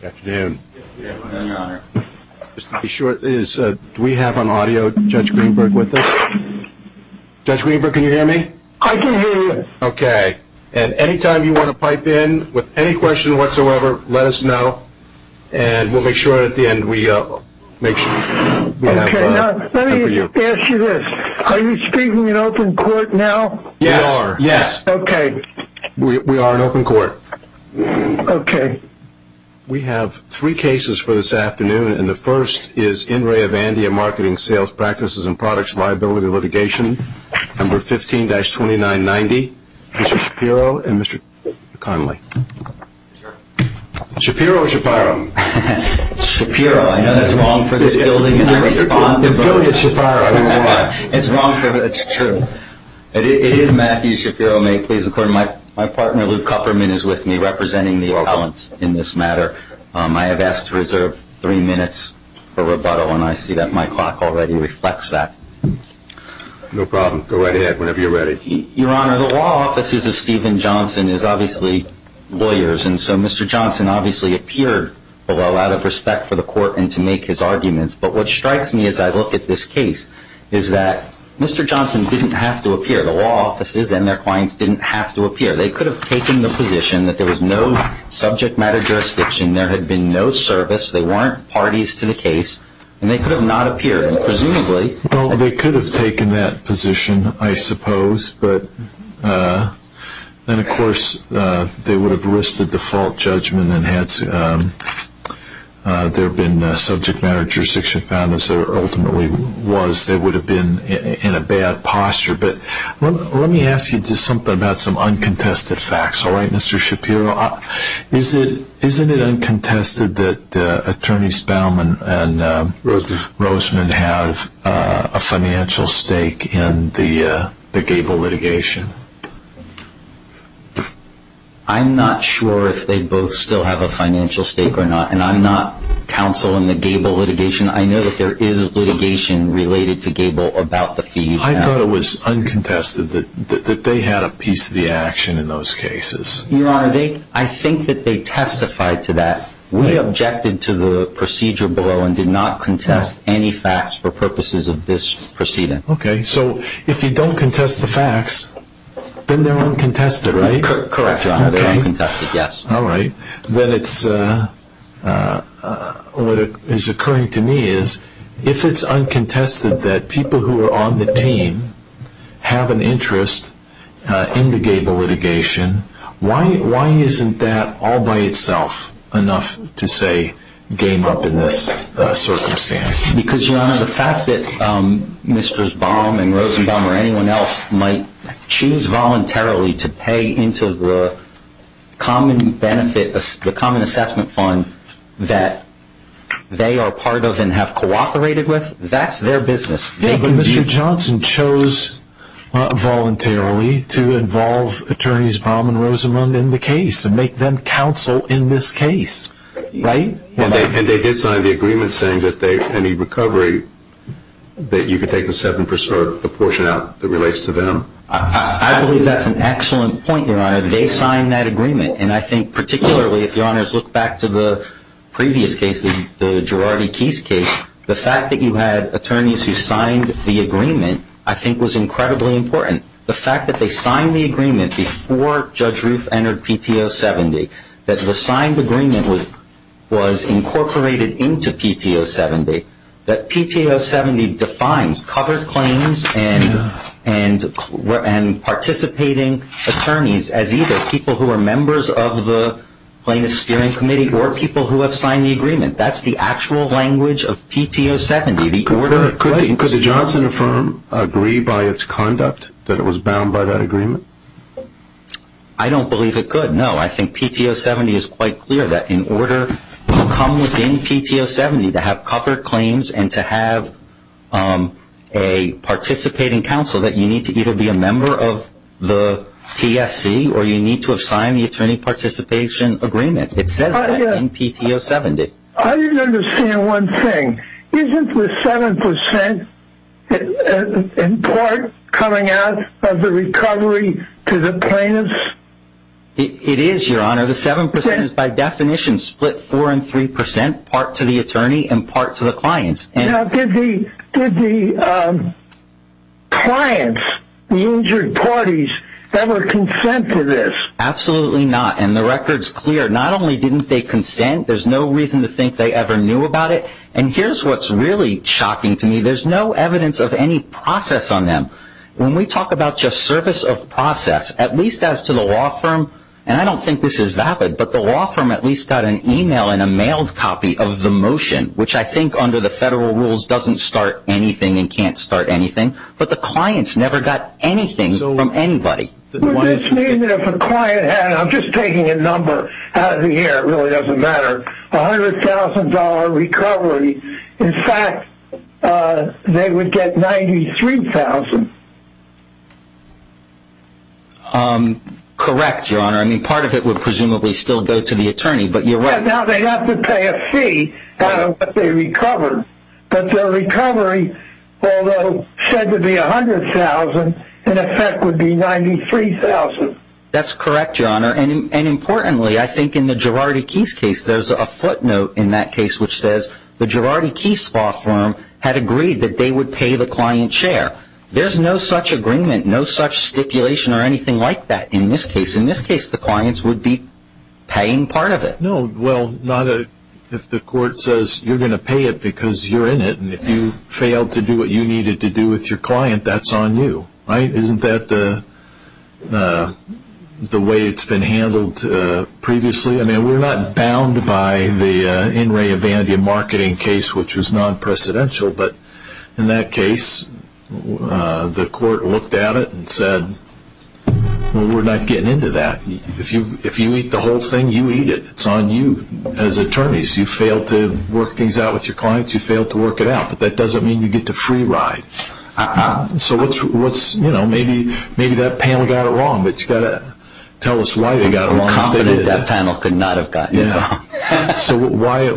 Good afternoon. Good afternoon, Your Honor. Just to be sure, do we have on audio Judge Greenberg with us? Judge Greenberg, can you hear me? I can hear you. Okay. And any time you want to pipe in with any question whatsoever, let us know. And we'll make sure at the end we have it for you. Okay. Let me ask you this. Are you speaking in open court now? We are. Yes. Okay. We are in open court. Okay. We have three cases for this afternoon. And the first is In Re Avandia Marketing Sales Practices and Products Liability Litigation, Number 15-2990. Mr. Shapiro and Mr. Connolly. Shapiro or Shapiro? Shapiro. I know that's wrong for this building, and I respond to both. I'm feeling it's Shapiro. It's wrong, but it's true. It is Matthew Shapiro. My partner, Lou Kupperman, is with me representing the appellants in this matter. I have asked to reserve three minutes for rebuttal, and I see that my clock already reflects that. No problem. Go right ahead whenever you're ready. Your Honor, the law offices of Stephen Johnson is obviously lawyers, and so Mr. Johnson obviously appeared, although out of respect for the court and to make his arguments. But what strikes me as I look at this case is that Mr. Johnson didn't have to appear. The law offices and their clients didn't have to appear. They could have taken the position that there was no subject matter jurisdiction. There had been no service. They weren't parties to the case, and they could have not appeared. Presumably. Well, they could have taken that position, I suppose. But then, of course, they would have risked a default judgment and had there been a subject matter jurisdiction found, as there ultimately was. They would have been in a bad posture. But let me ask you just something about some uncontested facts, all right, Mr. Shapiro? Isn't it uncontested that Attorneys Bauman and Roseman have a financial stake in the Gable litigation? I'm not sure if they both still have a financial stake or not, and I'm not counsel in the Gable litigation. I know that there is litigation related to Gable about the fees. I thought it was uncontested that they had a piece of the action in those cases. Your Honor, I think that they testified to that. We objected to the procedure below and did not contest any facts for purposes of this proceeding. Okay. So if you don't contest the facts, then they're uncontested, right? Correct, Your Honor. They're uncontested, yes. All right. Then what is occurring to me is if it's uncontested that people who are on the team have an interest in the Gable litigation, why isn't that all by itself enough to, say, game up in this circumstance? Because, Your Honor, the fact that Mr. Bauman, Rosenbaum, or anyone else might choose voluntarily to pay into the common benefit, the common assessment fund that they are part of and have cooperated with, that's their business. Yeah, but Mr. Johnson chose voluntarily to involve attorneys Bauman, Rosenbaum in the case and make them counsel in this case, right? And they did sign the agreement saying that any recovery that you could take the portion out that relates to them. I believe that's an excellent point, Your Honor. They signed that agreement. And I think particularly if Your Honors look back to the previous case, the Girardi-Keys case, the fact that you had attorneys who signed the agreement I think was incredibly important. The fact that they signed the agreement before Judge Roof entered PTO 70, that the signed agreement was incorporated into PTO 70, that PTO 70 defines covered claims and participating attorneys as either people who are members of the plaintiff's steering committee or people who have signed the agreement. That's the actual language of PTO 70. Could the Johnson firm agree by its conduct that it was bound by that agreement? I don't believe it could, no. I think PTO 70 is quite clear that in order to come within PTO 70 to have covered claims and to have a participating counsel that you need to either be a member of the PSC or you need to have signed the attorney participation agreement. It says that in PTO 70. I didn't understand one thing. Isn't the 7% in part coming out of the recovery to the plaintiffs? It is, Your Honor. The 7% is by definition split 4 and 3%, part to the attorney and part to the clients. Now, did the clients, the injured parties, ever consent to this? Absolutely not, and the record's clear. Not only didn't they consent, there's no reason to think they ever knew about it. And here's what's really shocking to me. There's no evidence of any process on them. When we talk about just service of process, at least as to the law firm, and I don't think this is vapid, but the law firm at least got an email and a mailed copy of the motion, which I think under the federal rules doesn't start anything and can't start anything, but the clients never got anything from anybody. It's mean that if a client had, and I'm just taking a number out of the air, it really doesn't matter, $100,000 recovery, in fact, they would get $93,000. Correct, Your Honor. I mean, part of it would presumably still go to the attorney, but you're right. Now, they'd have to pay a fee out of what they recovered, but their recovery, although said to be $100,000, in effect would be $93,000. That's correct, Your Honor. And importantly, I think in the Girardi-Keys case, there's a footnote in that case which says the Girardi-Keys law firm had agreed that they would pay the client's share. There's no such agreement, no such stipulation or anything like that in this case. In this case, the clients would be paying part of it. No, well, if the court says you're going to pay it because you're in it and if you failed to do what you needed to do with your client, that's on you, right? Isn't that the way it's been handled previously? I mean, we're not bound by the In re Evandia marketing case, which was non-precedential, but in that case, the court looked at it and said, well, we're not getting into that. If you eat the whole thing, you eat it. It's on you as attorneys. You failed to work things out with your clients, you failed to work it out, but that doesn't mean you get the free ride. So maybe that panel got it wrong, but you've got to tell us why they got it wrong. I'm confident that panel could not have gotten it wrong. So why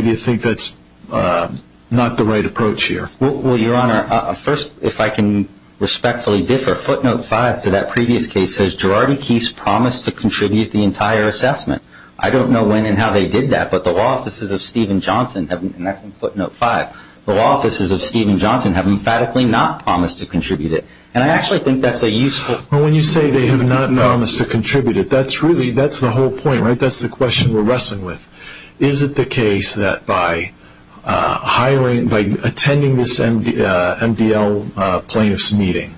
do you think that's not the right approach here? Well, Your Honor, first, if I can respectfully differ, footnote 5 to that previous case says, Gerardi-Keese promised to contribute the entire assessment. I don't know when and how they did that, but the law offices of Stephen Johnson, and that's in footnote 5, the law offices of Stephen Johnson have emphatically not promised to contribute it. And I actually think that's a useful point. When you say they have not promised to contribute it, that's the whole point, right? That's the question we're wrestling with. Is it the case that by attending this MDL plaintiff's meeting,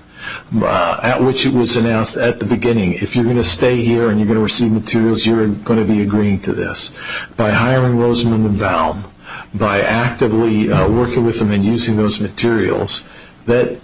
at which it was announced at the beginning, if you're going to stay here and you're going to receive materials, you're going to be agreeing to this. By hiring Rosamund Baum, by actively working with him and using those materials, that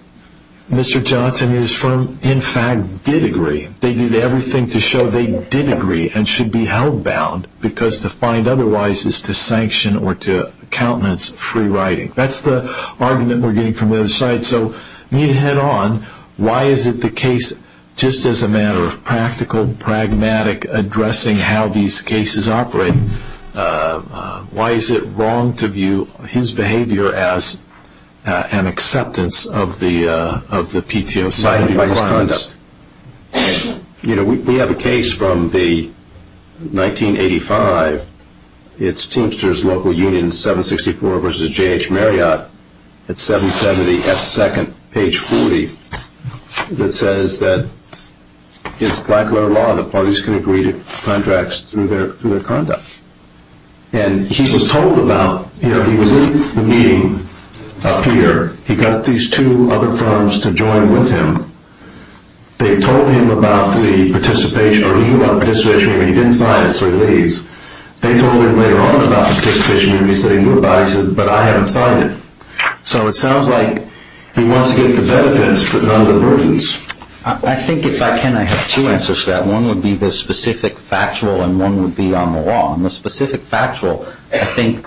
Mr. Johnson and his firm, in fact, did agree. They did everything to show they did agree and should be held bound because to find otherwise is to sanction or to countenance free writing. That's the argument we're getting from the other side. So you need to head on, why is it the case, just as a matter of practical, pragmatic addressing how these cases operate, why is it wrong to view his behavior as an acceptance of the PTO side of his conduct? You know, we have a case from 1985. It's Teamsters Local Union 764 versus J.H. Marriott at 770 S. Second, page 40, that says that it's black-letter law. The parties can agree to contracts through their conduct. And he was told about, you know, he was in the meeting up here. He got these two other firms to join with him. They told him about the participation, or he knew about the participation, but he didn't sign it, so he leaves. They told him later on about the participation, and he said he knew about it, but he said, but I haven't signed it. So it sounds like he wants to get the benefits but not the burdens. I think, if I can, I have two answers to that. One would be the specific factual, and one would be on the law. On the specific factual, I think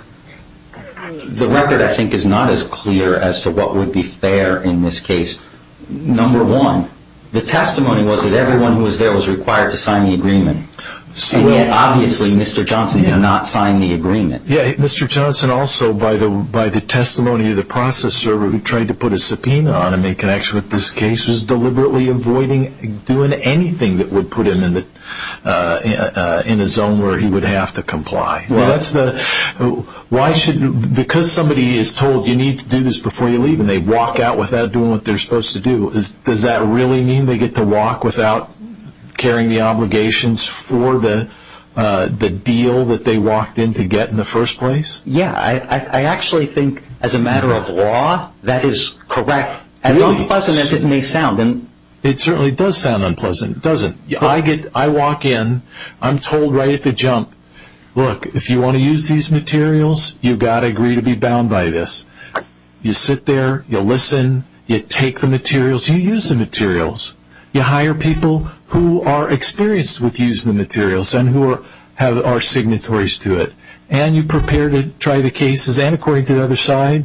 the record, I think, is not as clear as to what would be fair in this case. Number one, the testimony was that everyone who was there was required to sign the agreement. Yeah, Mr. Johnson also, by the testimony of the process server, who tried to put a subpoena on him in connection with this case, was deliberately avoiding doing anything that would put him in a zone where he would have to comply. Because somebody is told, you need to do this before you leave, and they walk out without doing what they're supposed to do, does that really mean they get to walk without carrying the obligations for the deal that they walked in to get in the first place? Yeah, I actually think, as a matter of law, that is correct. As unpleasant as it may sound. It certainly does sound unpleasant, doesn't it? I walk in, I'm told right at the jump, look, if you want to use these materials, you've got to agree to be bound by this. You sit there, you listen, you take the materials, you use the materials. You hire people who are experienced with using the materials and who are signatories to it. And you prepare to try the cases, and according to the other side,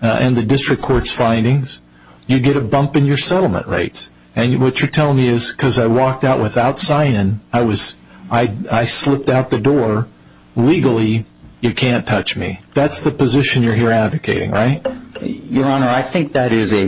and the district court's findings, you get a bump in your settlement rates. And what you're telling me is, because I walked out without signing, I slipped out the door, legally, you can't touch me. That's the position you're here advocating, right? Your Honor, I think that is a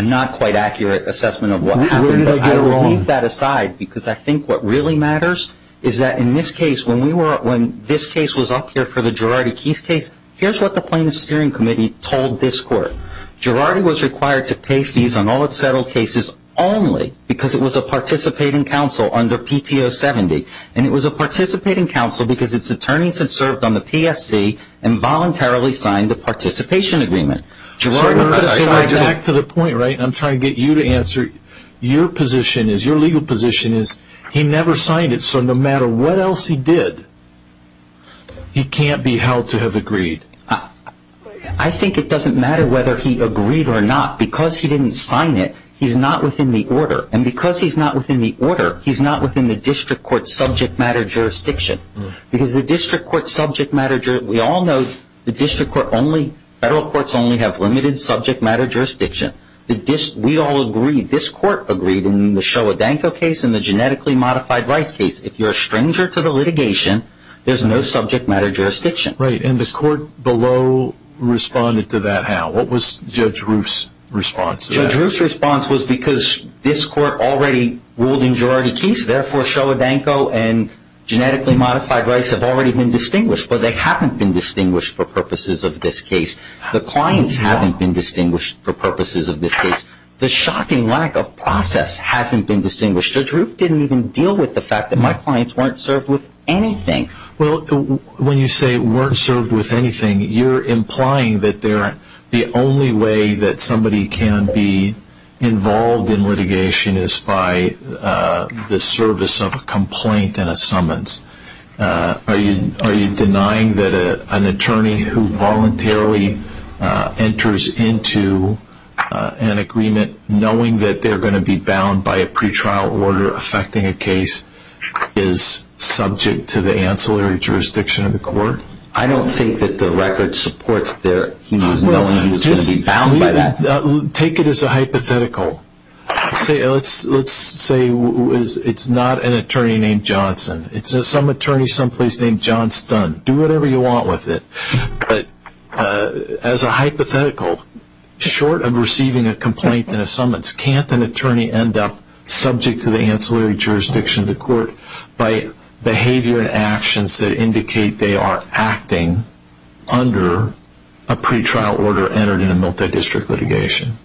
not quite accurate assessment of what happened. I will leave that aside because I think what really matters is that in this case, when this case was up here for the Girardi-Keys case, here's what the plaintiff's steering committee told this court. Girardi was required to pay fees on all of the settled cases only because it was a participating counsel under PTO 70. And it was a participating counsel because its attorneys had served on the PSC and voluntarily signed the participation agreement. Your Honor, back to the point, right? I'm trying to get you to answer. Your position is, your legal position is, he never signed it, so no matter what else he did, he can't be held to have agreed. I think it doesn't matter whether he agreed or not. Because he didn't sign it, he's not within the order. And because he's not within the order, he's not within the district court's subject matter jurisdiction. Because the district court's subject matter jurisdiction, we all know, the district court only, federal courts only have limited subject matter jurisdiction. We all agree, this court agreed in the Shoah-Danko case and the genetically modified Rice case, if you're a stranger to the litigation, there's no subject matter jurisdiction. Right, and the court below responded to that how? What was Judge Roof's response to that? Judge Roof's response was because this court already ruled in Girardi-Keys, therefore Shoah-Danko and genetically modified Rice have already been distinguished, but they haven't been distinguished for purposes of this case. The clients haven't been distinguished for purposes of this case. The shocking lack of process hasn't been distinguished. Judge Roof didn't even deal with the fact that my clients weren't served with anything. Well, when you say weren't served with anything, you're implying that the only way that somebody can be involved in litigation is by the service of a complaint and a summons. Are you denying that an attorney who voluntarily enters into an agreement, knowing that they're going to be bound by a pretrial order affecting a case, is subject to the ancillary jurisdiction of the court? I don't think that the record supports him knowing he was going to be bound by that. Take it as a hypothetical. Let's say it's not an attorney named Johnson. It's some attorney someplace named John Stun. Do whatever you want with it. But as a hypothetical, short of receiving a complaint and a summons, can't an attorney end up subject to the ancillary jurisdiction of the court by behavior and actions that indicate they are acting under a pretrial order entered in a multidistrict litigation?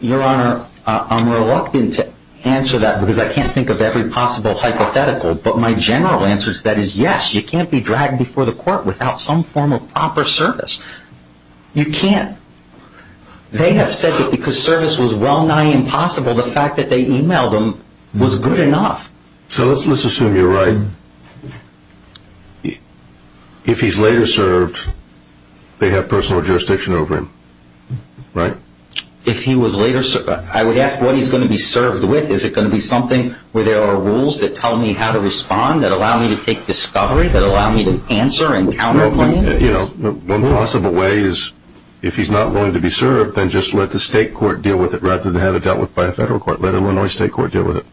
Your Honor, I'm reluctant to answer that because I can't think of every possible hypothetical. But my general answer to that is yes, you can't be dragged before the court without some form of proper service. You can't. They have said that because service was well nigh impossible, the fact that they emailed him was good enough. So let's assume you're right. If he's later served, they have personal jurisdiction over him, right? If he was later served, I would ask what he's going to be served with. Is it going to be something where there are rules that tell me how to respond, that allow me to take discovery, that allow me to answer and counterclaim? One possible way is if he's not willing to be served, then just let the state court deal with it rather than have it dealt with by a federal court. Let Illinois state court deal with it.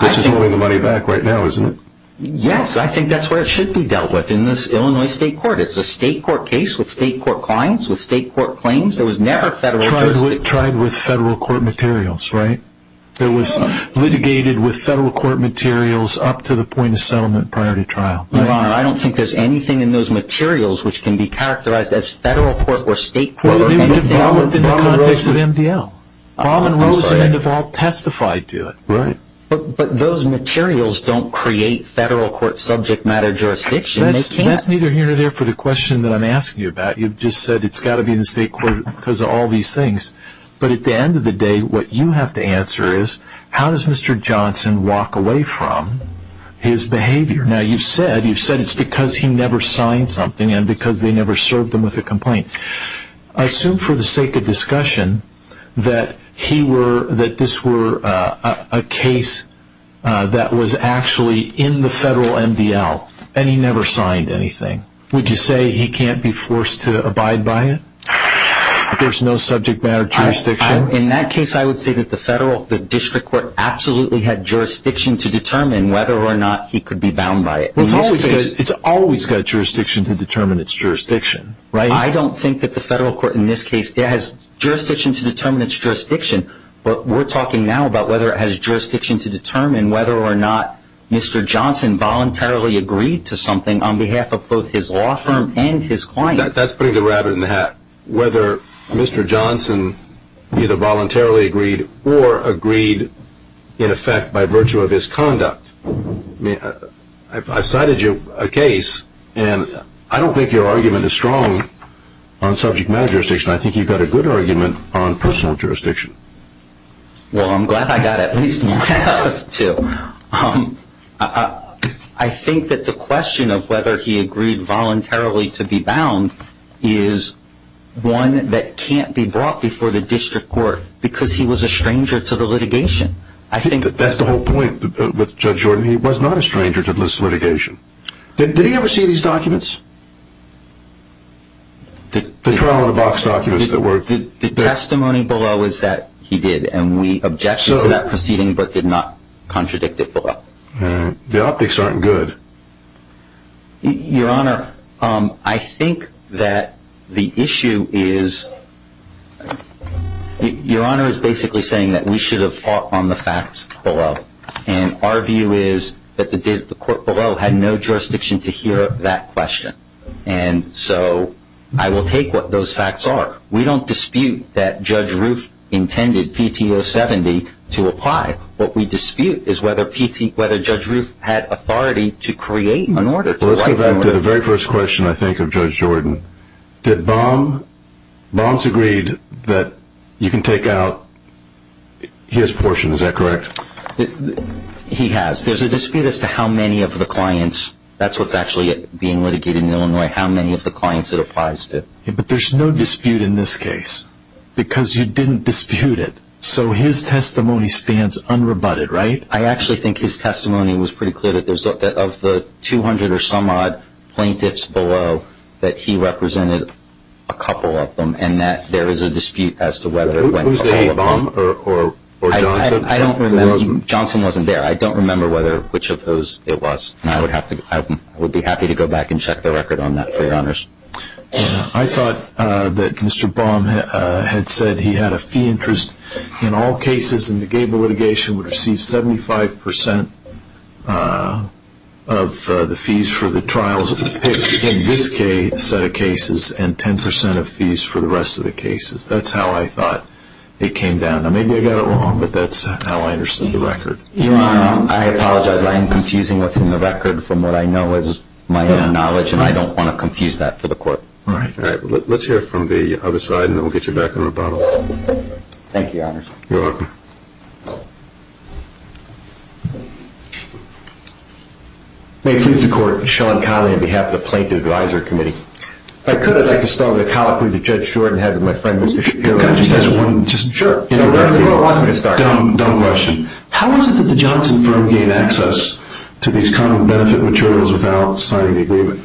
This is moving the money back right now, isn't it? Yes, I think that's what it should be dealt with in this Illinois state court. It's a state court case with state court claims. There was never federal jurisdiction. Tried with federal court materials, right? It was litigated with federal court materials up to the point of settlement prior to trial. Your Honor, I don't think there's anything in those materials which can be characterized as federal court or state court. Well, they were developed in the context of MDL. Baum and Rosen have all testified to it. But those materials don't create federal court subject matter jurisdiction. That's neither here nor there for the question that I'm asking you about. You've just said it's got to be in the state court because of all these things. But at the end of the day, what you have to answer is, how does Mr. Johnson walk away from his behavior? Now, you've said it's because he never signed something and because they never served him with a complaint. Assume for the sake of discussion that this were a case that was actually in the federal MDL and he never signed anything. Would you say he can't be forced to abide by it? There's no subject matter jurisdiction? In that case, I would say that the district court absolutely had jurisdiction to determine whether or not he could be bound by it. Well, it's always got jurisdiction to determine its jurisdiction. I don't think that the federal court in this case has jurisdiction to determine its jurisdiction. But we're talking now about whether it has jurisdiction to determine whether or not Mr. Johnson voluntarily agreed to something on behalf of both his law firm and his clients. That's putting the rabbit in the hat. Whether Mr. Johnson either voluntarily agreed or agreed in effect by virtue of his conduct. I've cited you a case, and I don't think your argument is strong on subject matter jurisdiction. I think you've got a good argument on personal jurisdiction. Well, I'm glad I got at least one out of two. I think that the question of whether he agreed voluntarily to be bound is one that can't be brought before the district court because he was a stranger to the litigation. That's the whole point with Judge Jordan. He was not a stranger to this litigation. Did he ever see these documents? The trial-in-the-box documents that were... The testimony below is that he did, and we objected to that proceeding but did not contradict it below. The optics aren't good. Your Honor, I think that the issue is... Your Honor is basically saying that we should have fought on the facts below. And our view is that the court below had no jurisdiction to hear that question. And so I will take what those facts are. We don't dispute that Judge Roof intended PTO 70 to apply. What we dispute is whether Judge Roof had authority to create an order. Well, let's go back to the very first question, I think, of Judge Jordan. Bombs agreed that you can take out his portion. Is that correct? He has. There's a dispute as to how many of the clients... That's what's actually being litigated in Illinois, how many of the clients it applies to. But there's no dispute in this case because you didn't dispute it. So his testimony spans unrebutted, right? I actually think his testimony was pretty clear that of the 200 or some odd plaintiffs below, that he represented a couple of them and that there is a dispute as to whether it went to all of them. Was it a bomb or Johnson? I don't remember. Johnson wasn't there. I don't remember which of those it was. And I would be happy to go back and check the record on that for your honors. I thought that Mr. Bomb had said he had a fee interest in all cases and the Gable litigation would receive 75% of the fees for the trials in this set of cases and 10% of fees for the rest of the cases. That's how I thought it came down. Now, maybe I got it wrong, but that's how I understood the record. I apologize. I am confusing what's in the record from what I know as my knowledge, and I don't want to confuse that for the court. All right. Let's hear it from the other side, and then we'll get you back on rebuttal. Thank you, Your Honors. You're welcome. May it please the Court, Sean Connolly on behalf of the Plaintiff Advisory Committee. If I could, I'd like to start with a colloquy that Judge Jordan had with my friend Mr. Shapiro. Can I just ask one? Sure. It was a dumb question. How is it that the Johnson firm gained access to these common benefit materials without signing the agreement?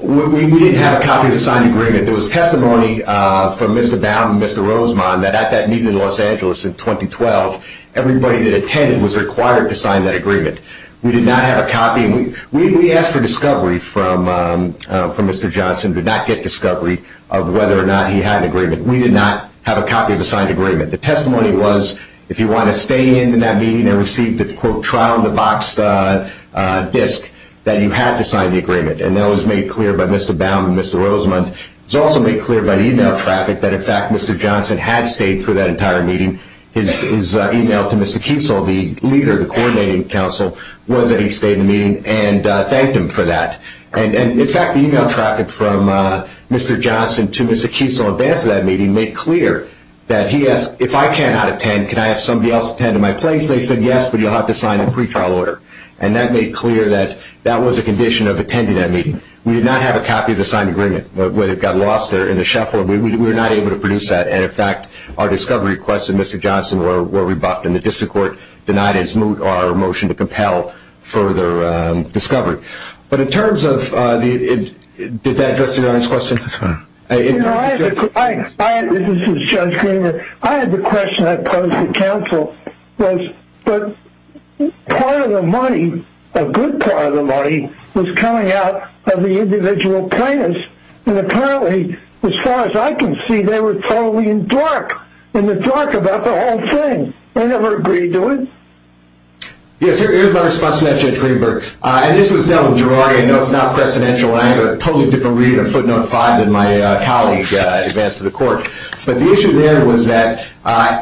We didn't have a copy of the signed agreement. There was testimony from Mr. Baum and Mr. Rosemond that at that meeting in Los Angeles in 2012, everybody that attended was required to sign that agreement. We did not have a copy. We asked for discovery from Mr. Johnson, but did not get discovery of whether or not he had an agreement. We did not have a copy of the signed agreement. The testimony was, if you want to stay in that meeting and receive the, quote, trial-of-the-box disc, that you have to sign the agreement. And that was made clear by Mr. Baum and Mr. Rosemond. It was also made clear by the e-mail traffic that, in fact, Mr. Johnson had stayed for that entire meeting. His e-mail to Mr. Kiesel, the leader of the Coordinating Council, was that he stayed in the meeting and thanked him for that. And, in fact, the e-mail traffic from Mr. Johnson to Mr. Kiesel in advance of that meeting made clear that he asked, if I cannot attend, can I have somebody else attend in my place? They said, yes, but you'll have to sign a pretrial order. And that made clear that that was a condition of attending that meeting. We did not have a copy of the signed agreement. But when it got lost there in the shuffle, we were not able to produce that. And, in fact, our discovery requested Mr. Johnson were rebuffed, and the district court denied his moot or motion to compel further discovery. But in terms of the – did that address the audience question? This is Judge Greenberg. I had the question I posed to counsel, but part of the money, a good part of the money, was coming out of the individual plaintiffs. And, apparently, as far as I can see, they were totally in dark, in the dark about the whole thing. They never agreed to it. Yes, here's my response to that, Judge Greenberg. And this was dealt with Gerardi. I know it's not precedential, and I have a totally different reading of footnote 5 than my colleague advanced to the court. But the issue there was that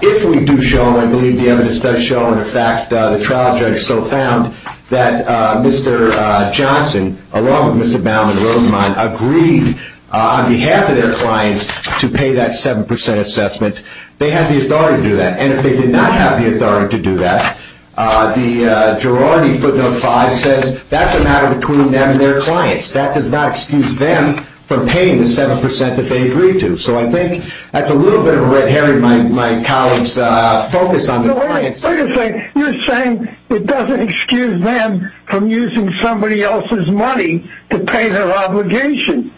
if we do show, and I believe the evidence does show, and, in fact, the trial judge so found that Mr. Johnson, along with Mr. Baum and Rosamond, agreed on behalf of their clients to pay that 7 percent assessment, they had the authority to do that. And if they did not have the authority to do that, the Gerardi footnote 5 says that's a matter between them and their clients. That does not excuse them from paying the 7 percent that they agreed to. So I think that's a little bit of a red herring in my colleague's focus on the clients. You're saying it doesn't excuse them from using somebody else's money to pay their obligation.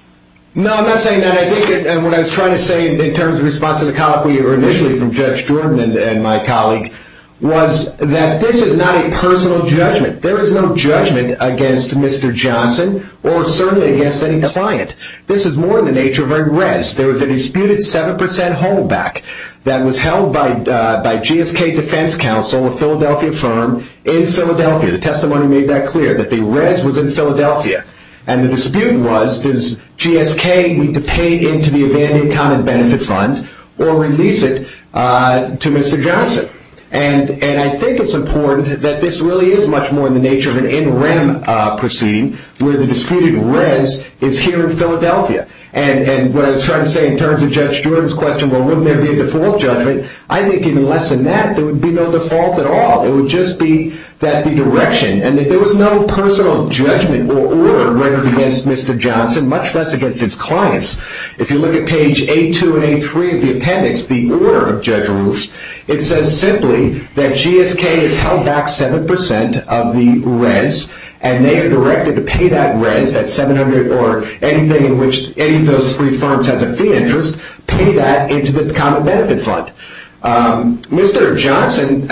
No, I'm not saying that. What I was trying to say in terms of response to the colleague, or initially from Judge Jordan and my colleague, was that this is not a personal judgment. There is no judgment against Mr. Johnson or certainly against any client. This is more in the nature of a res. There was a disputed 7 percent holdback that was held by GSK Defense Counsel, a Philadelphia firm, in Philadelphia. The testimony made that clear, that the res was in Philadelphia. And the dispute was, does GSK need to pay into the abandoned common benefit fund or release it to Mr. Johnson? And I think it's important that this really is much more in the nature of an in rem proceeding, where the disputed res is here in Philadelphia. And what I was trying to say in terms of Judge Jordan's question, well, wouldn't there be a default judgment? I think even less than that, there would be no default at all. It would just be that the direction, and that there was no personal judgment or order rendered against Mr. Johnson, much less against his clients. If you look at page 82 and 83 of the appendix, the order of Judge Roos, it says simply that GSK has held back 7 percent of the res, and they are directed to pay that res, that 700 or anything in which any of those three firms has a fee interest, pay that into the common benefit fund. Mr. Johnson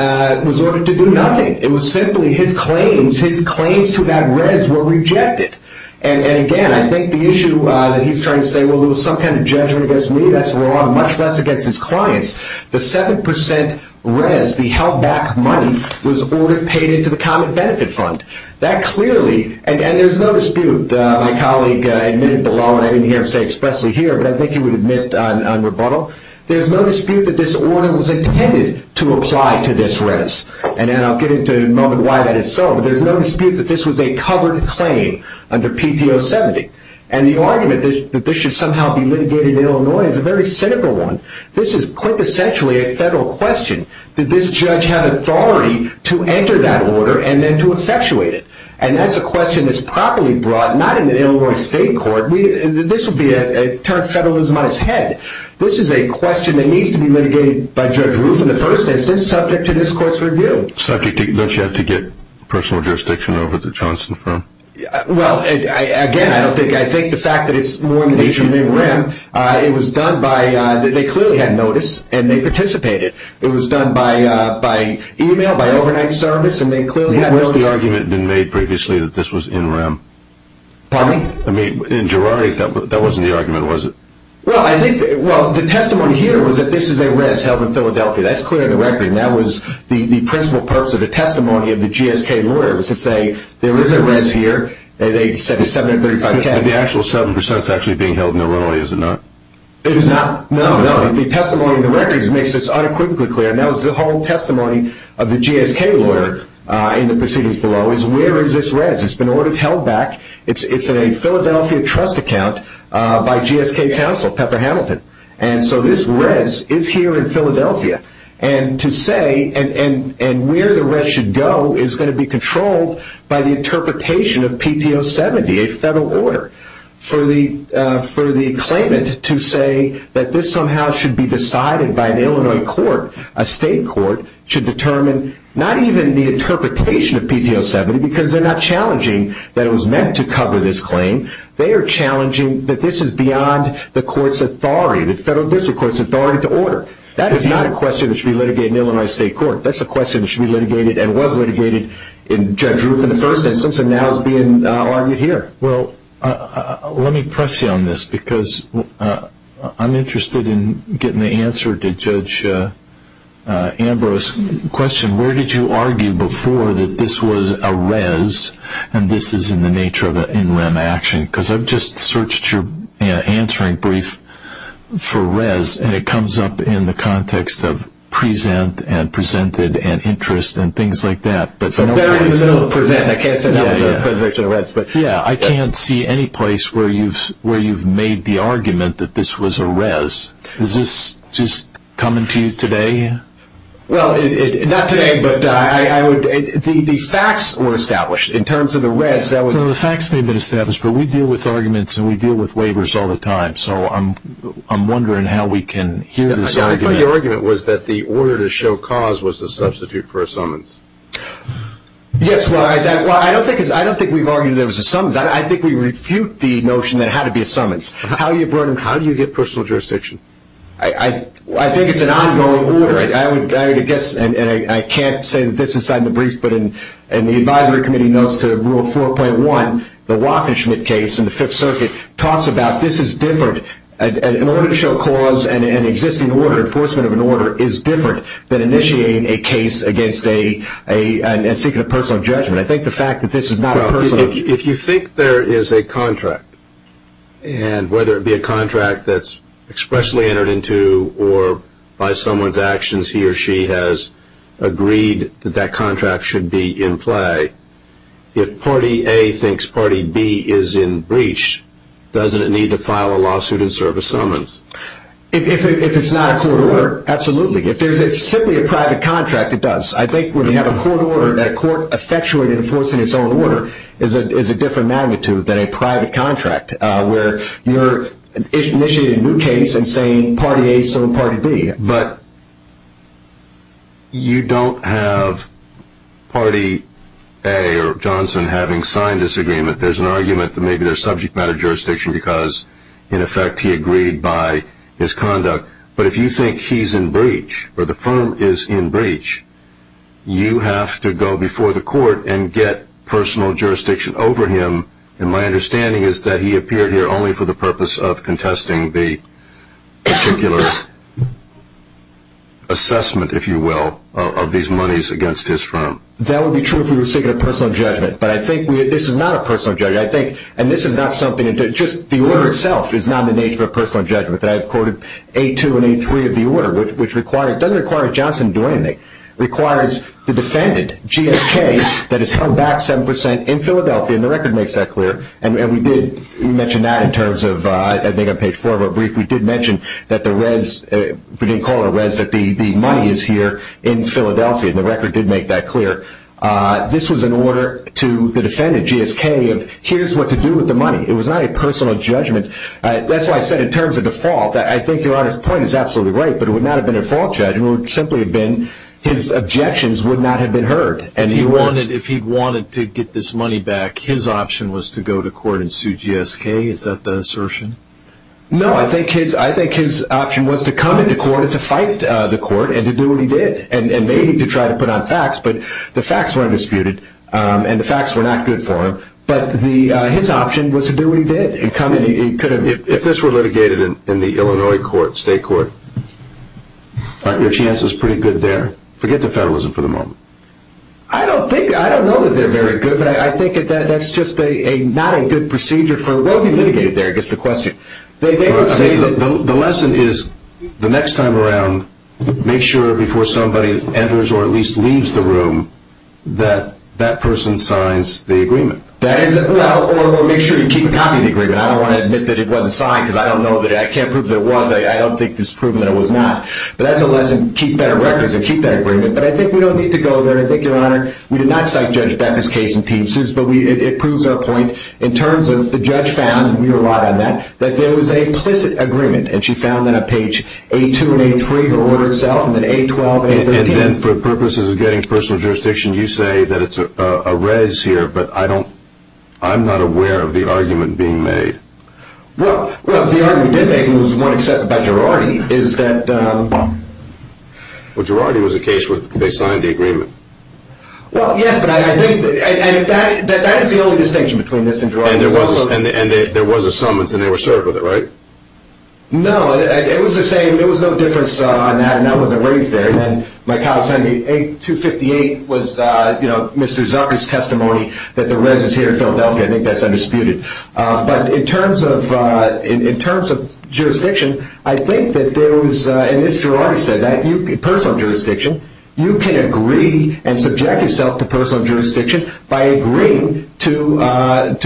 was ordered to do nothing. It was simply his claims, his claims to that res were rejected. And again, I think the issue that he's trying to say, well, there was some kind of judgment against me, that's wrong, much less against his clients. The 7 percent res, the held back money, was ordered and paid into the common benefit fund. That clearly, and there's no dispute. My colleague admitted below, and I didn't hear him say it expressly here, but I think he would admit on rebuttal. There's no dispute that this order was intended to apply to this res. And I'll get into why that is so, but there's no dispute that this was a covered claim under PTO 70. And the argument that this should somehow be litigated in Illinois is a very cynical one. This is quintessentially a federal question. Did this judge have authority to enter that order and then to effectuate it? And that's a question that's properly brought, not in an Illinois state court. This would be a term of federalism on its head. This is a question that needs to be litigated by Judge Roof in the first instance, subject to this court's review. Subject to, don't you have to get personal jurisdiction over the Johnson firm? Well, again, I don't think, I think the fact that it's more in the nature of NREM, it was done by, they clearly had notice and they participated. It was done by email, by overnight service, and they clearly had notice. When has the argument been made previously that this was NREM? Pardon me? I mean, in Girardi, that wasn't the argument, was it? Well, I think, well, the testimony here was that this is a res held in Philadelphia. That's clear in the record, and that was the principal purpose of the testimony of the GSK lawyer, was to say there is a res here, and they said it's 735K. But the actual 7% is actually being held in Illinois, is it not? It is not. No, no. The testimony in the record makes this unequivocally clear, and that was the whole testimony of the GSK lawyer in the proceedings below, is where is this res? It's been ordered held back. It's a Philadelphia trust account by GSK counsel, Pepper Hamilton. And so this res is here in Philadelphia. And to say, and where the res should go is going to be controlled by the interpretation of PTO 70, a federal order for the claimant to say that this somehow should be decided by an Illinois court, a state court, to determine not even the interpretation of PTO 70, because they're not challenging that it was meant to cover this claim, they are challenging that this is beyond the court's authority, the federal district court's authority to order. That is not a question that should be litigated in an Illinois state court. That's a question that should be litigated and was litigated in Judge Ruth in the first instance, and now is being argued here. Well, let me press you on this, because I'm interested in getting the answer to Judge Ambrose's question. Where did you argue before that this was a res, and this is in the nature of an in rem action? Because I've just searched your answering brief for res, and it comes up in the context of present, and presented, and interest, and things like that. It's in the very middle of present. I can't sit down with a presentation of res. Yeah, I can't see any place where you've made the argument that this was a res. Is this just coming to you today? Well, not today, but the facts were established. In terms of the res, that was- Well, the facts may have been established, but we deal with arguments, and we deal with waivers all the time, so I'm wondering how we can hear this argument. I thought your argument was that the order to show cause was a substitute for a summons. Yes, well, I don't think we've argued that it was a summons. I think we refute the notion that it had to be a summons. How do you get personal jurisdiction? I think it's an ongoing order. I would guess, and I can't say this inside the brief, but in the advisory committee notes to Rule 4.1, the Waffen-Schmidt case in the Fifth Circuit, talks about this is different. An order to show cause and an existing order, enforcement of an order, is different than initiating a case and seeking a personal judgment. I think the fact that this is not a personal- If you think there is a contract, and whether it be a contract that's expressly entered into or by someone's actions, he or she has agreed that that contract should be in play, if party A thinks party B is in breach, doesn't it need to file a lawsuit and serve a summons? If it's not a court order, absolutely. If it's simply a private contract, it does. I think when you have a court order, and a court effectually enforcing its own order, is a different magnitude than a private contract, where you're initiating a new case and saying party A is serving party B. But you don't have party A or Johnson having signed this agreement. There's an argument that maybe there's subject matter jurisdiction because, in effect, he agreed by his conduct. But if you think he's in breach, or the firm is in breach, you have to go before the court and get personal jurisdiction over him. My understanding is that he appeared here only for the purpose of contesting the particular assessment, if you will, of these monies against his firm. That would be true if we were seeking a personal judgment. But I think this is not a personal judgment. The order itself is not the nature of a personal judgment. I've quoted A2 and A3 of the order, which doesn't require Johnson to do anything. It requires the defendant, GSK, that is held back 7% in Philadelphia, and the record makes that clear. We mentioned that on page 4 of our brief. We did mention that the money is here in Philadelphia, and the record did make that clear. This was an order to the defendant, GSK, of here's what to do with the money. It was not a personal judgment. That's why I said in terms of default, I think Your Honor's point is absolutely right, but it would not have been a default judgment. It would simply have been his objections would not have been heard. If he wanted to get this money back, his option was to go to court and sue GSK? Is that the assertion? No, I think his option was to come into court and to fight the court and to do what he did, and maybe to try to put on facts, but the facts were undisputed, and the facts were not good for him. But his option was to do what he did. If this were litigated in the Illinois state court, aren't your chances pretty good there? Forget the federalism for the moment. I don't know that they're very good, but I think that's just not a good procedure. What would be litigated there is the question. The lesson is the next time around, make sure before somebody enters or at least leaves the room, that that person signs the agreement. Or make sure you keep a copy of the agreement. I don't want to admit that it wasn't signed because I can't prove that it was. I don't think it's proven that it was not. But that's a lesson, keep better records and keep that agreement. But I think we don't need to go there. I think, Your Honor, we did not cite Judge Becker's case in team suits, but it proves our point. In terms of the judge found, and we relied on that, that there was a implicit agreement. And she found that on page A2 and A3, the order itself, and then A12 and A13. And then for purposes of getting personal jurisdiction, you say that it's a res here, but I'm not aware of the argument being made. Well, the argument being made was one accepted by Girardi. Well, Girardi was the case where they signed the agreement. Well, yes, but I think that is the only distinction between this and Girardi. And there was a summons, and they were served with it, right? No, it was the same. There was no difference on that, and that wasn't raised there. And then my colleague signed me, A258 was Mr. Zarki's testimony that the res is here in Philadelphia. I think that's undisputed. But in terms of jurisdiction, I think that there was, and as Girardi said, that in personal jurisdiction, you can agree and subject yourself to personal jurisdiction by agreeing to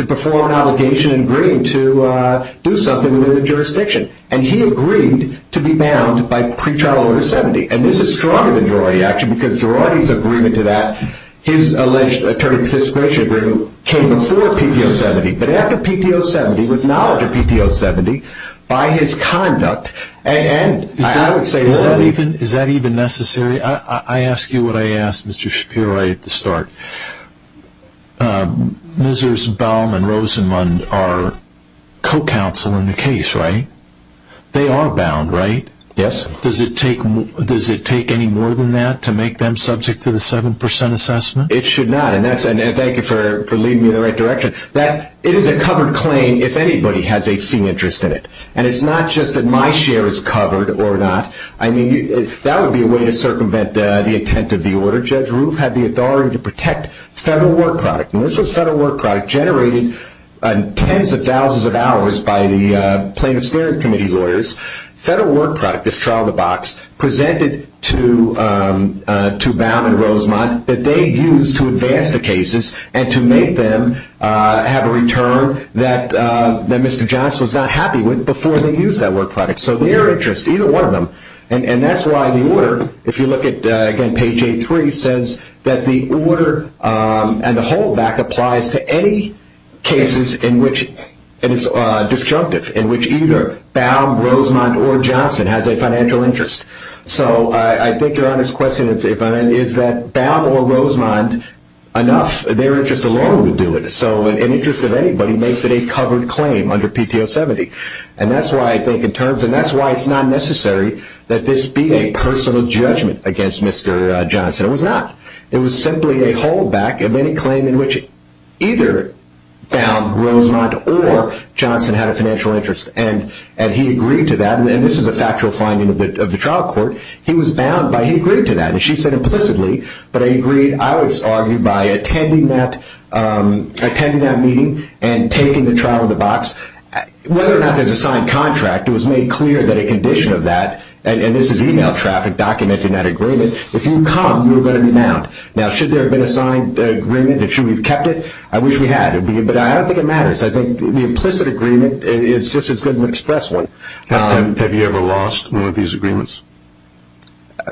perform an obligation and agreeing to do something within the jurisdiction. And he agreed to be bound by pretrial order 70. And this is stronger than Girardi's action because Girardi's agreement to that, his alleged attorney participation agreement, came before PPO 70. But after PPO 70, with knowledge of PPO 70, by his conduct, Is that even necessary? I ask you what I asked Mr. Shapiro right at the start. Miser's, Baum, and Rosenmund are co-counsel in the case, right? They are bound, right? Yes. Does it take any more than that to make them subject to the 7% assessment? It should not, and thank you for leading me in the right direction. It is a covered claim if anybody has a seen interest in it. And it's not just that my share is covered or not. I mean, that would be a way to circumvent the intent of the order. Judge Roof had the authority to protect federal work product. And this was federal work product generated in tens of thousands of hours by the Plaintiff's Steering Committee lawyers. Federal work product, this trial in the box, presented to Baum and Rosenmund that they used to advance the cases and to make them have a return that Mr. Johnson was not happy with before they used that work product. So their interest, either one of them. And that's why the order, if you look at, again, page 8-3, says that the order and the holdback applies to any cases in which it is disjunctive, in which either Baum, Rosenmund, or Johnson has a financial interest. So I think your honest question is that Baum or Rosenmund, enough, their interest alone would do it. So an interest of anybody makes it a covered claim under PTO 70. And that's why I think in terms, and that's why it's not necessary that this be a personal judgment against Mr. Johnson. It was not. It was simply a holdback of any claim in which either Baum, Rosenmund, or Johnson had a financial interest. And he agreed to that. And this is a factual finding of the trial court. He was bound by, he agreed to that, and she said implicitly, I was arguing by attending that meeting and taking the trial in the box. Whether or not there's a signed contract, it was made clear that a condition of that, and this is e-mail traffic documenting that agreement, if you come, you're going to be bound. Now, should there have been a signed agreement? Should we have kept it? I wish we had. But I don't think it matters. I think the implicit agreement is just as good an express one. Have you ever lost one of these agreements?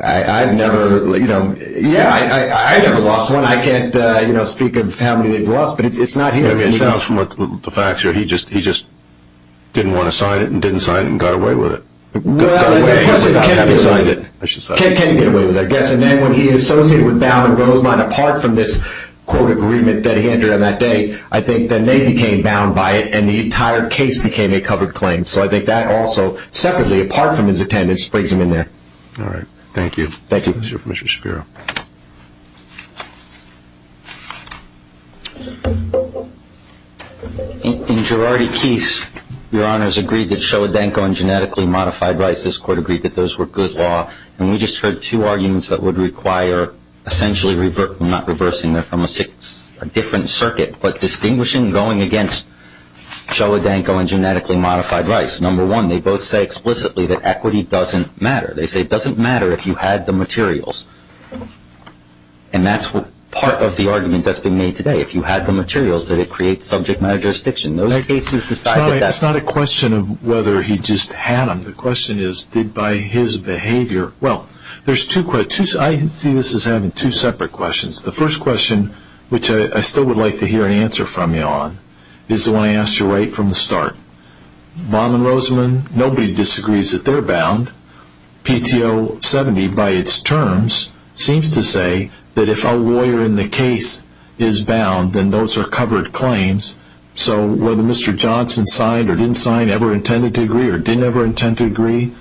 I've never, you know, yeah, I never lost one. I can't, you know, speak of how many they've lost, but it's not here. I mean, it sounds from the facts here, he just didn't want to sign it and didn't sign it and got away with it. Well, the question is, can he get away with it? Can he get away with it? I guess. And then when he associated with Baum and Rosenmund, apart from this court agreement that he entered on that day, I think then they became bound by it, and the entire case became a covered claim. So I think that also separately, apart from his attendance, brings him in there. All right. Thank you. Thank you. Let's hear from Mr. Shapiro. In Girardi-Keese, Your Honors, agreed that Showa-Danko and genetically modified rights, this Court agreed that those were good law, and we just heard two arguments that would require essentially not reversing them from a different circuit, but distinguishing going against Showa-Danko and genetically modified rights. Number one, they both say explicitly that equity doesn't matter. They say it doesn't matter if you had the materials, and that's part of the argument that's being made today. If you had the materials, then it creates subject matter jurisdiction. Those cases decide that that's... It's not a question of whether he just had them. The question is, did by his behavior... Well, there's two... I see this as having two separate questions. The first question, which I still would like to hear an answer from you on, is the one I asked you right from the start. Baum and Roseman, nobody disagrees that they're bound. PTO 70, by its terms, seems to say that if a lawyer in the case is bound, then those are covered claims. So whether Mr. Johnson signed or didn't sign, ever intended to agree or didn't ever intend to agree,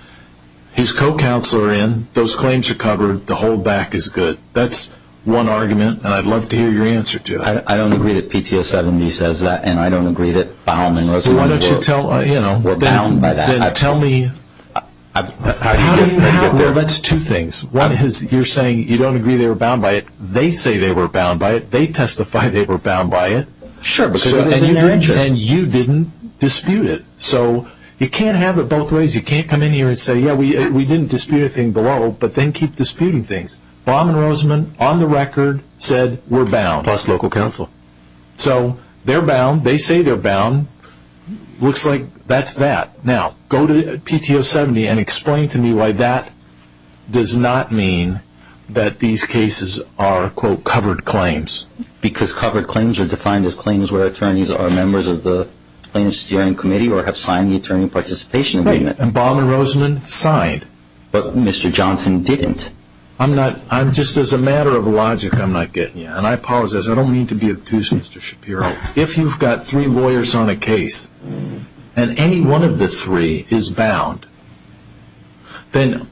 his co-counsel are in, those claims are covered, the holdback is good. That's one argument, and I'd love to hear your answer to it. I don't agree that PTO 70 says that, and I don't agree that Baum and Roseman were bound by that. Then tell me... Well, that's two things. One is you're saying you don't agree they were bound by it. They say they were bound by it. They testify they were bound by it. Sure, because it was in their interest. And you didn't dispute it. So you can't have it both ways. You can't come in here and say, Yeah, we didn't dispute a thing below, but then keep disputing things. Baum and Roseman, on the record, said we're bound. Plus local counsel. So they're bound. They say they're bound. Looks like that's that. Now, go to PTO 70 and explain to me why that does not mean that these cases are, quote, covered claims. Because covered claims are defined as claims where attorneys are members of the plaintiffs' steering committee or have signed the attorney participation amendment. And Baum and Roseman signed. But Mr. Johnson didn't. I'm not... Just as a matter of logic, I'm not getting you. And I apologize. I don't mean to be obtuse, Mr. Shapiro. If you've got three lawyers on a case and any one of the three is bound, then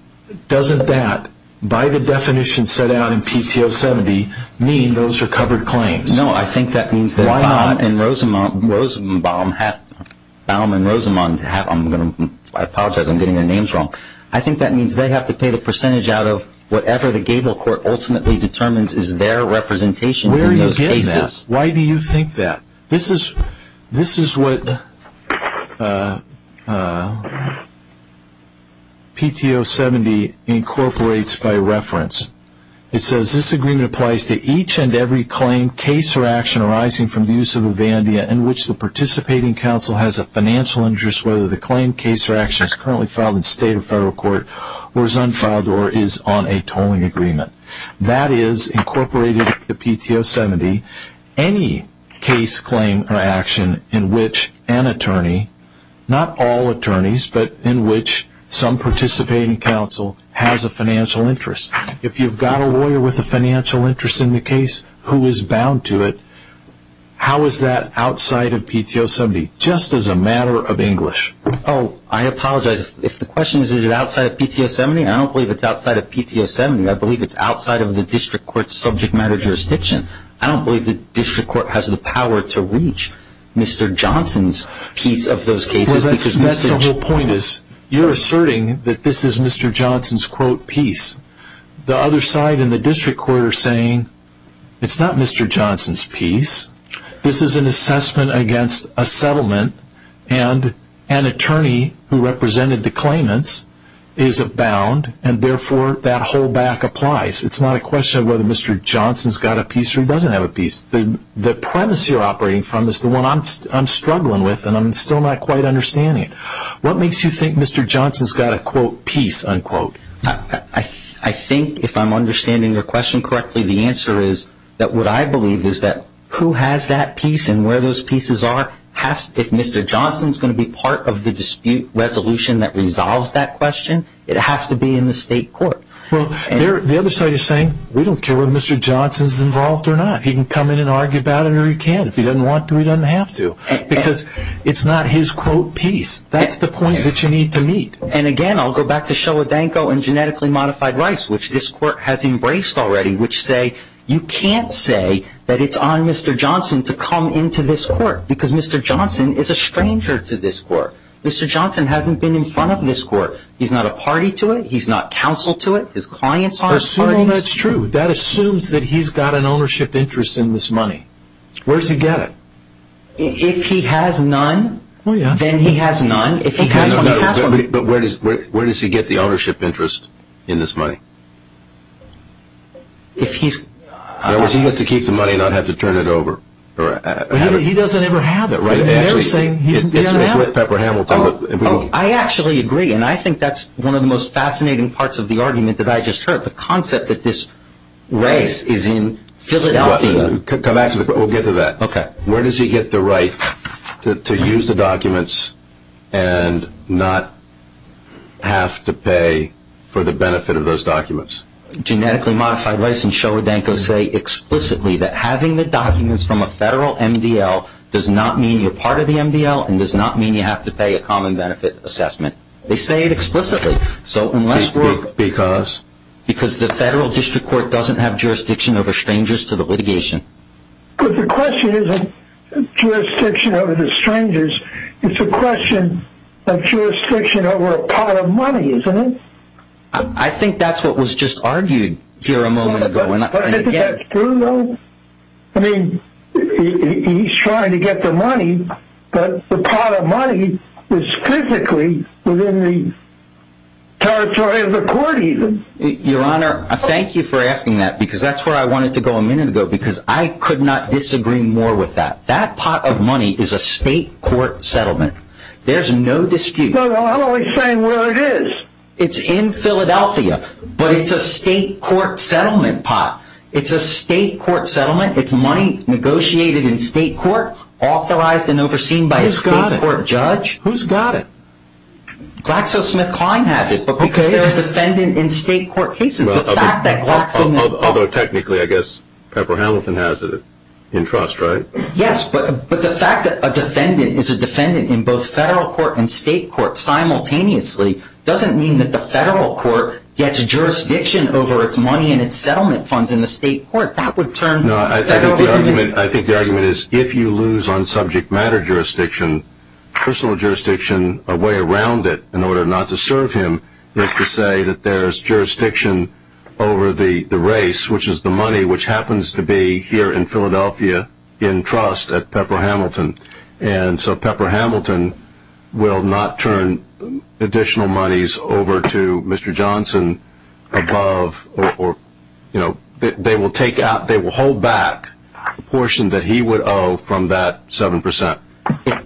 doesn't that, by the definition set out in PTO 70, mean those are covered claims? No, I think that means that Baum and Roseman... I apologize. I'm getting their names wrong. I think that means they have to pay the percentage out of whatever the gable court ultimately determines is their representation in those cases. Where are you getting this? Why do you think that? This is what PTO 70 incorporates by reference. It says this agreement applies to each and every claim, case, or action arising from the use of a VANDIA in which the participating counsel has a financial interest whether the claim, case, or action is currently filed in state or federal court or is unfiled or is on a tolling agreement. That is incorporated into PTO 70. Any case, claim, or action in which an attorney, not all attorneys, but in which some participating counsel has a financial interest. If you've got a lawyer with a financial interest in the case who is bound to it, how is that outside of PTO 70? Just as a matter of English. Oh, I apologize. If the question is is it outside of PTO 70, I don't believe it's outside of PTO 70. I believe it's outside of the district court's subject matter jurisdiction. I don't believe the district court has the power to reach Mr. Johnson's piece of those cases. Well, that's the whole point is you're asserting that this is Mr. Johnson's, quote, piece. The other side and the district court are saying it's not Mr. Johnson's piece. This is an assessment against a settlement, and an attorney who represented the claimants is bound, and therefore that whole back applies. It's not a question of whether Mr. Johnson's got a piece or he doesn't have a piece. The premise you're operating from is the one I'm struggling with, and I'm still not quite understanding it. What makes you think Mr. Johnson's got a, quote, piece, unquote? I think if I'm understanding your question correctly, the answer is that what I believe is that who has that piece and where those pieces are, if Mr. Johnson's going to be part of the dispute resolution that resolves that question, it has to be in the state court. Well, the other side is saying we don't care whether Mr. Johnson's involved or not. He can come in and argue about it, or he can't. If he doesn't want to, he doesn't have to, because it's not his, quote, piece. That's the point that you need to meet. And, again, I'll go back to Showa Danko and genetically modified rice, which this court has embraced already, which say you can't say that it's on Mr. Johnson to come into this court because Mr. Johnson is a stranger to this court. Mr. Johnson hasn't been in front of this court. He's not a party to it. He's not counsel to it. His clients aren't parties. Assuming that's true, that assumes that he's got an ownership interest in this money. Where does he get it? If he has none, then he has none. But where does he get the ownership interest in this money? If he's… In other words, he gets to keep the money and not have to turn it over. He doesn't ever have it. It's with Pepper Hamilton. I actually agree, and I think that's one of the most fascinating parts of the argument that I just heard, the concept that this race is in Philadelphia. We'll get to that. Okay. Where does he get the right to use the documents and not have to pay for the benefit of those documents? Genetically Modified Race and Sherwood Danko say explicitly that having the documents from a federal MDL does not mean you're part of the MDL and does not mean you have to pay a common benefit assessment. They say it explicitly. Because? Because the federal district court doesn't have jurisdiction over strangers to the litigation. But the question isn't jurisdiction over the strangers. It's a question of jurisdiction over a pot of money, isn't it? I think that's what was just argued here a moment ago. But isn't that true, though? I mean, he's trying to get the money, but the pot of money is physically within the territory of the court even. Your Honor, thank you for asking that because that's where I wanted to go a minute ago because I could not disagree more with that. That pot of money is a state court settlement. There's no dispute. Well, how about we say where it is? It's in Philadelphia, but it's a state court settlement pot. It's a state court settlement. It's money negotiated in state court, authorized and overseen by a state court judge. Who's got it? GlaxoSmithKline has it, but because they're a defendant in state court cases, the fact that GlaxoSmithKline Although technically, I guess Pepper Hamilton has it in trust, right? Yes, but the fact that a defendant is a defendant in both federal court and state court simultaneously doesn't mean that the federal court gets jurisdiction over its money and its settlement funds in the state court. That would turn federalism into I think the argument is if you lose on subject matter jurisdiction, personal jurisdiction, a way around it in order not to serve him is to say that there's jurisdiction over the race, which is the money which happens to be here in Philadelphia in trust at Pepper Hamilton. And so Pepper Hamilton will not turn additional monies over to Mr. Johnson above or they will hold back the portion that he would owe from that 7%.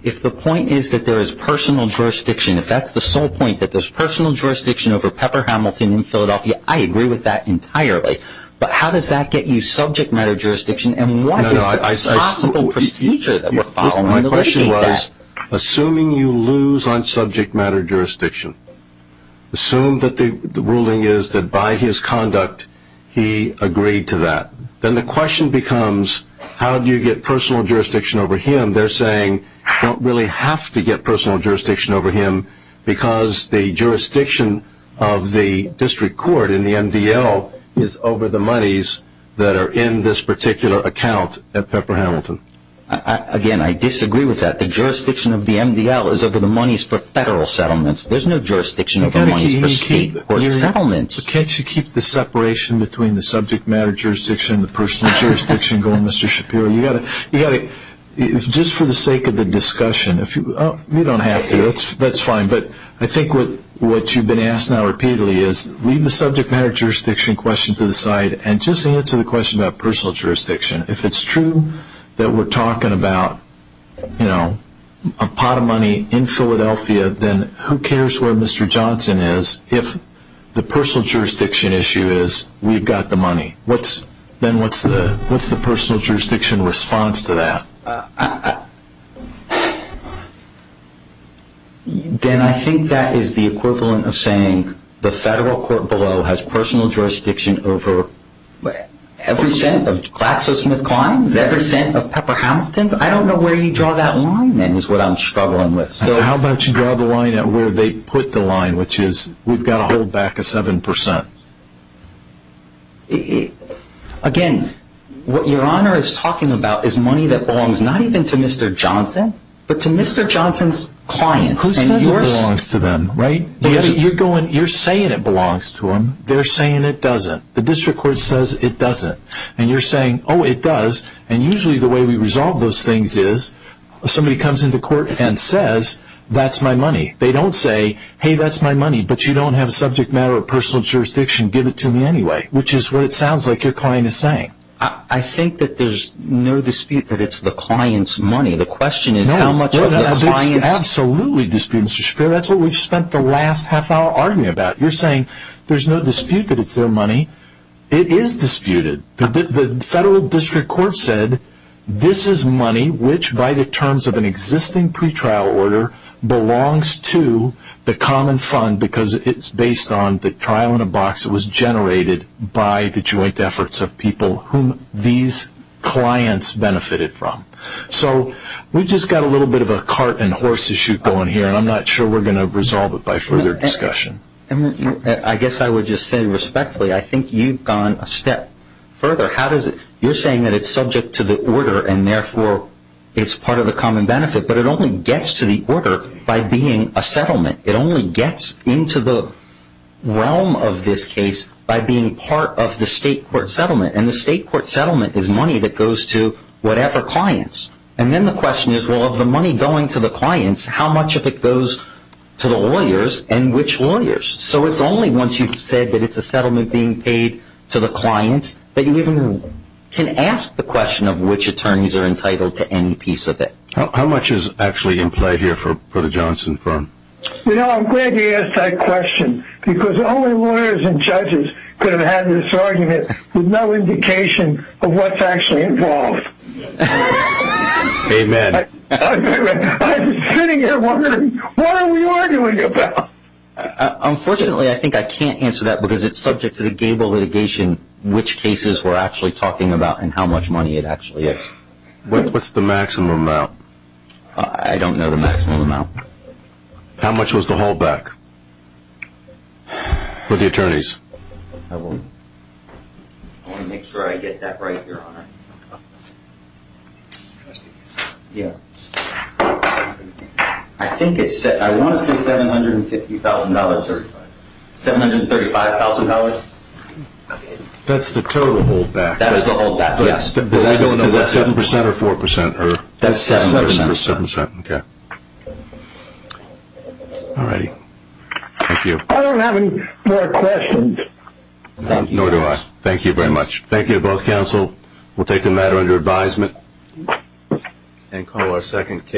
If the point is that there is personal jurisdiction, if that's the sole point, that there's personal jurisdiction over Pepper Hamilton in Philadelphia, I agree with that entirely. But how does that get you subject matter jurisdiction? And what is the possible procedure that we're following to mitigate that? My question was, assuming you lose on subject matter jurisdiction, assume that the ruling is that by his conduct, he agreed to that. Then the question becomes, how do you get personal jurisdiction over him? Don't really have to get personal jurisdiction over him because the jurisdiction of the district court in the MDL is over the monies that are in this particular account at Pepper Hamilton. Again, I disagree with that. The jurisdiction of the MDL is over the monies for federal settlements. There's no jurisdiction over the monies for state court settlements. Can't you keep the separation between the subject matter jurisdiction and the personal jurisdiction going, Mr. Shapiro? Just for the sake of the discussion, you don't have to. That's fine. But I think what you've been asked now repeatedly is, leave the subject matter jurisdiction question to the side and just answer the question about personal jurisdiction. If it's true that we're talking about a pot of money in Philadelphia, then who cares where Mr. Johnson is if the personal jurisdiction issue is, we've got the money. Then what's the personal jurisdiction response to that? Then I think that is the equivalent of saying the federal court below has personal jurisdiction over every cent of Klaxosmith-Klein's, every cent of Pepper Hamilton's. I don't know where you draw that line, then, is what I'm struggling with. How about you draw the line at where they put the line, which is we've got to hold back a 7%. Again, what Your Honor is talking about is money that belongs not even to Mr. Johnson, but to Mr. Johnson's clients. Who says it belongs to them, right? You're saying it belongs to them. They're saying it doesn't. The district court says it doesn't. And you're saying, oh, it does. And usually the way we resolve those things is somebody comes into court and says, that's my money. They don't say, hey, that's my money, but you don't have a subject matter of personal jurisdiction, give it to me anyway, which is what it sounds like your client is saying. I think that there's no dispute that it's the client's money. The question is how much of the client's. Absolutely disputed, Mr. Shapiro. That's what we've spent the last half hour arguing about. You're saying there's no dispute that it's their money. It is disputed. The federal district court said this is money which, by the terms of an existing pretrial order, belongs to the common fund because it's based on the trial in a box. It was generated by the joint efforts of people whom these clients benefited from. So we've just got a little bit of a cart and horse issue going here, and I'm not sure we're going to resolve it by further discussion. I guess I would just say respectfully, I think you've gone a step further. You're saying that it's subject to the order and, therefore, it's part of the common benefit, but it only gets to the order by being a settlement. It only gets into the realm of this case by being part of the state court settlement, and the state court settlement is money that goes to whatever clients. And then the question is, well, of the money going to the clients, how much of it goes to the lawyers and which lawyers? So it's only once you've said that it's a settlement being paid to the clients that you even can ask the question of which attorneys are entitled to any piece of it. How much is actually in play here for the Johnson firm? You know, I'm glad you asked that question because only lawyers and judges could have had this argument with no indication of what's actually involved. Amen. I'm sitting here wondering, what are we arguing about? Unfortunately, I think I can't answer that because it's subject to the gable litigation, which cases we're actually talking about and how much money it actually is. What's the maximum amount? I don't know the maximum amount. How much was the holdback for the attorneys? I want to make sure I get that right, Your Honor. Yeah. I want to say $750,000. $735,000? That's the total holdback. That's the holdback, yes. Is that 7% or 4%? That's 7%. Okay. All righty. Thank you. I don't have any more questions. Nor do I. Thank you very much. Thank you to both counsel. We'll take the matter under advisement and call our second case.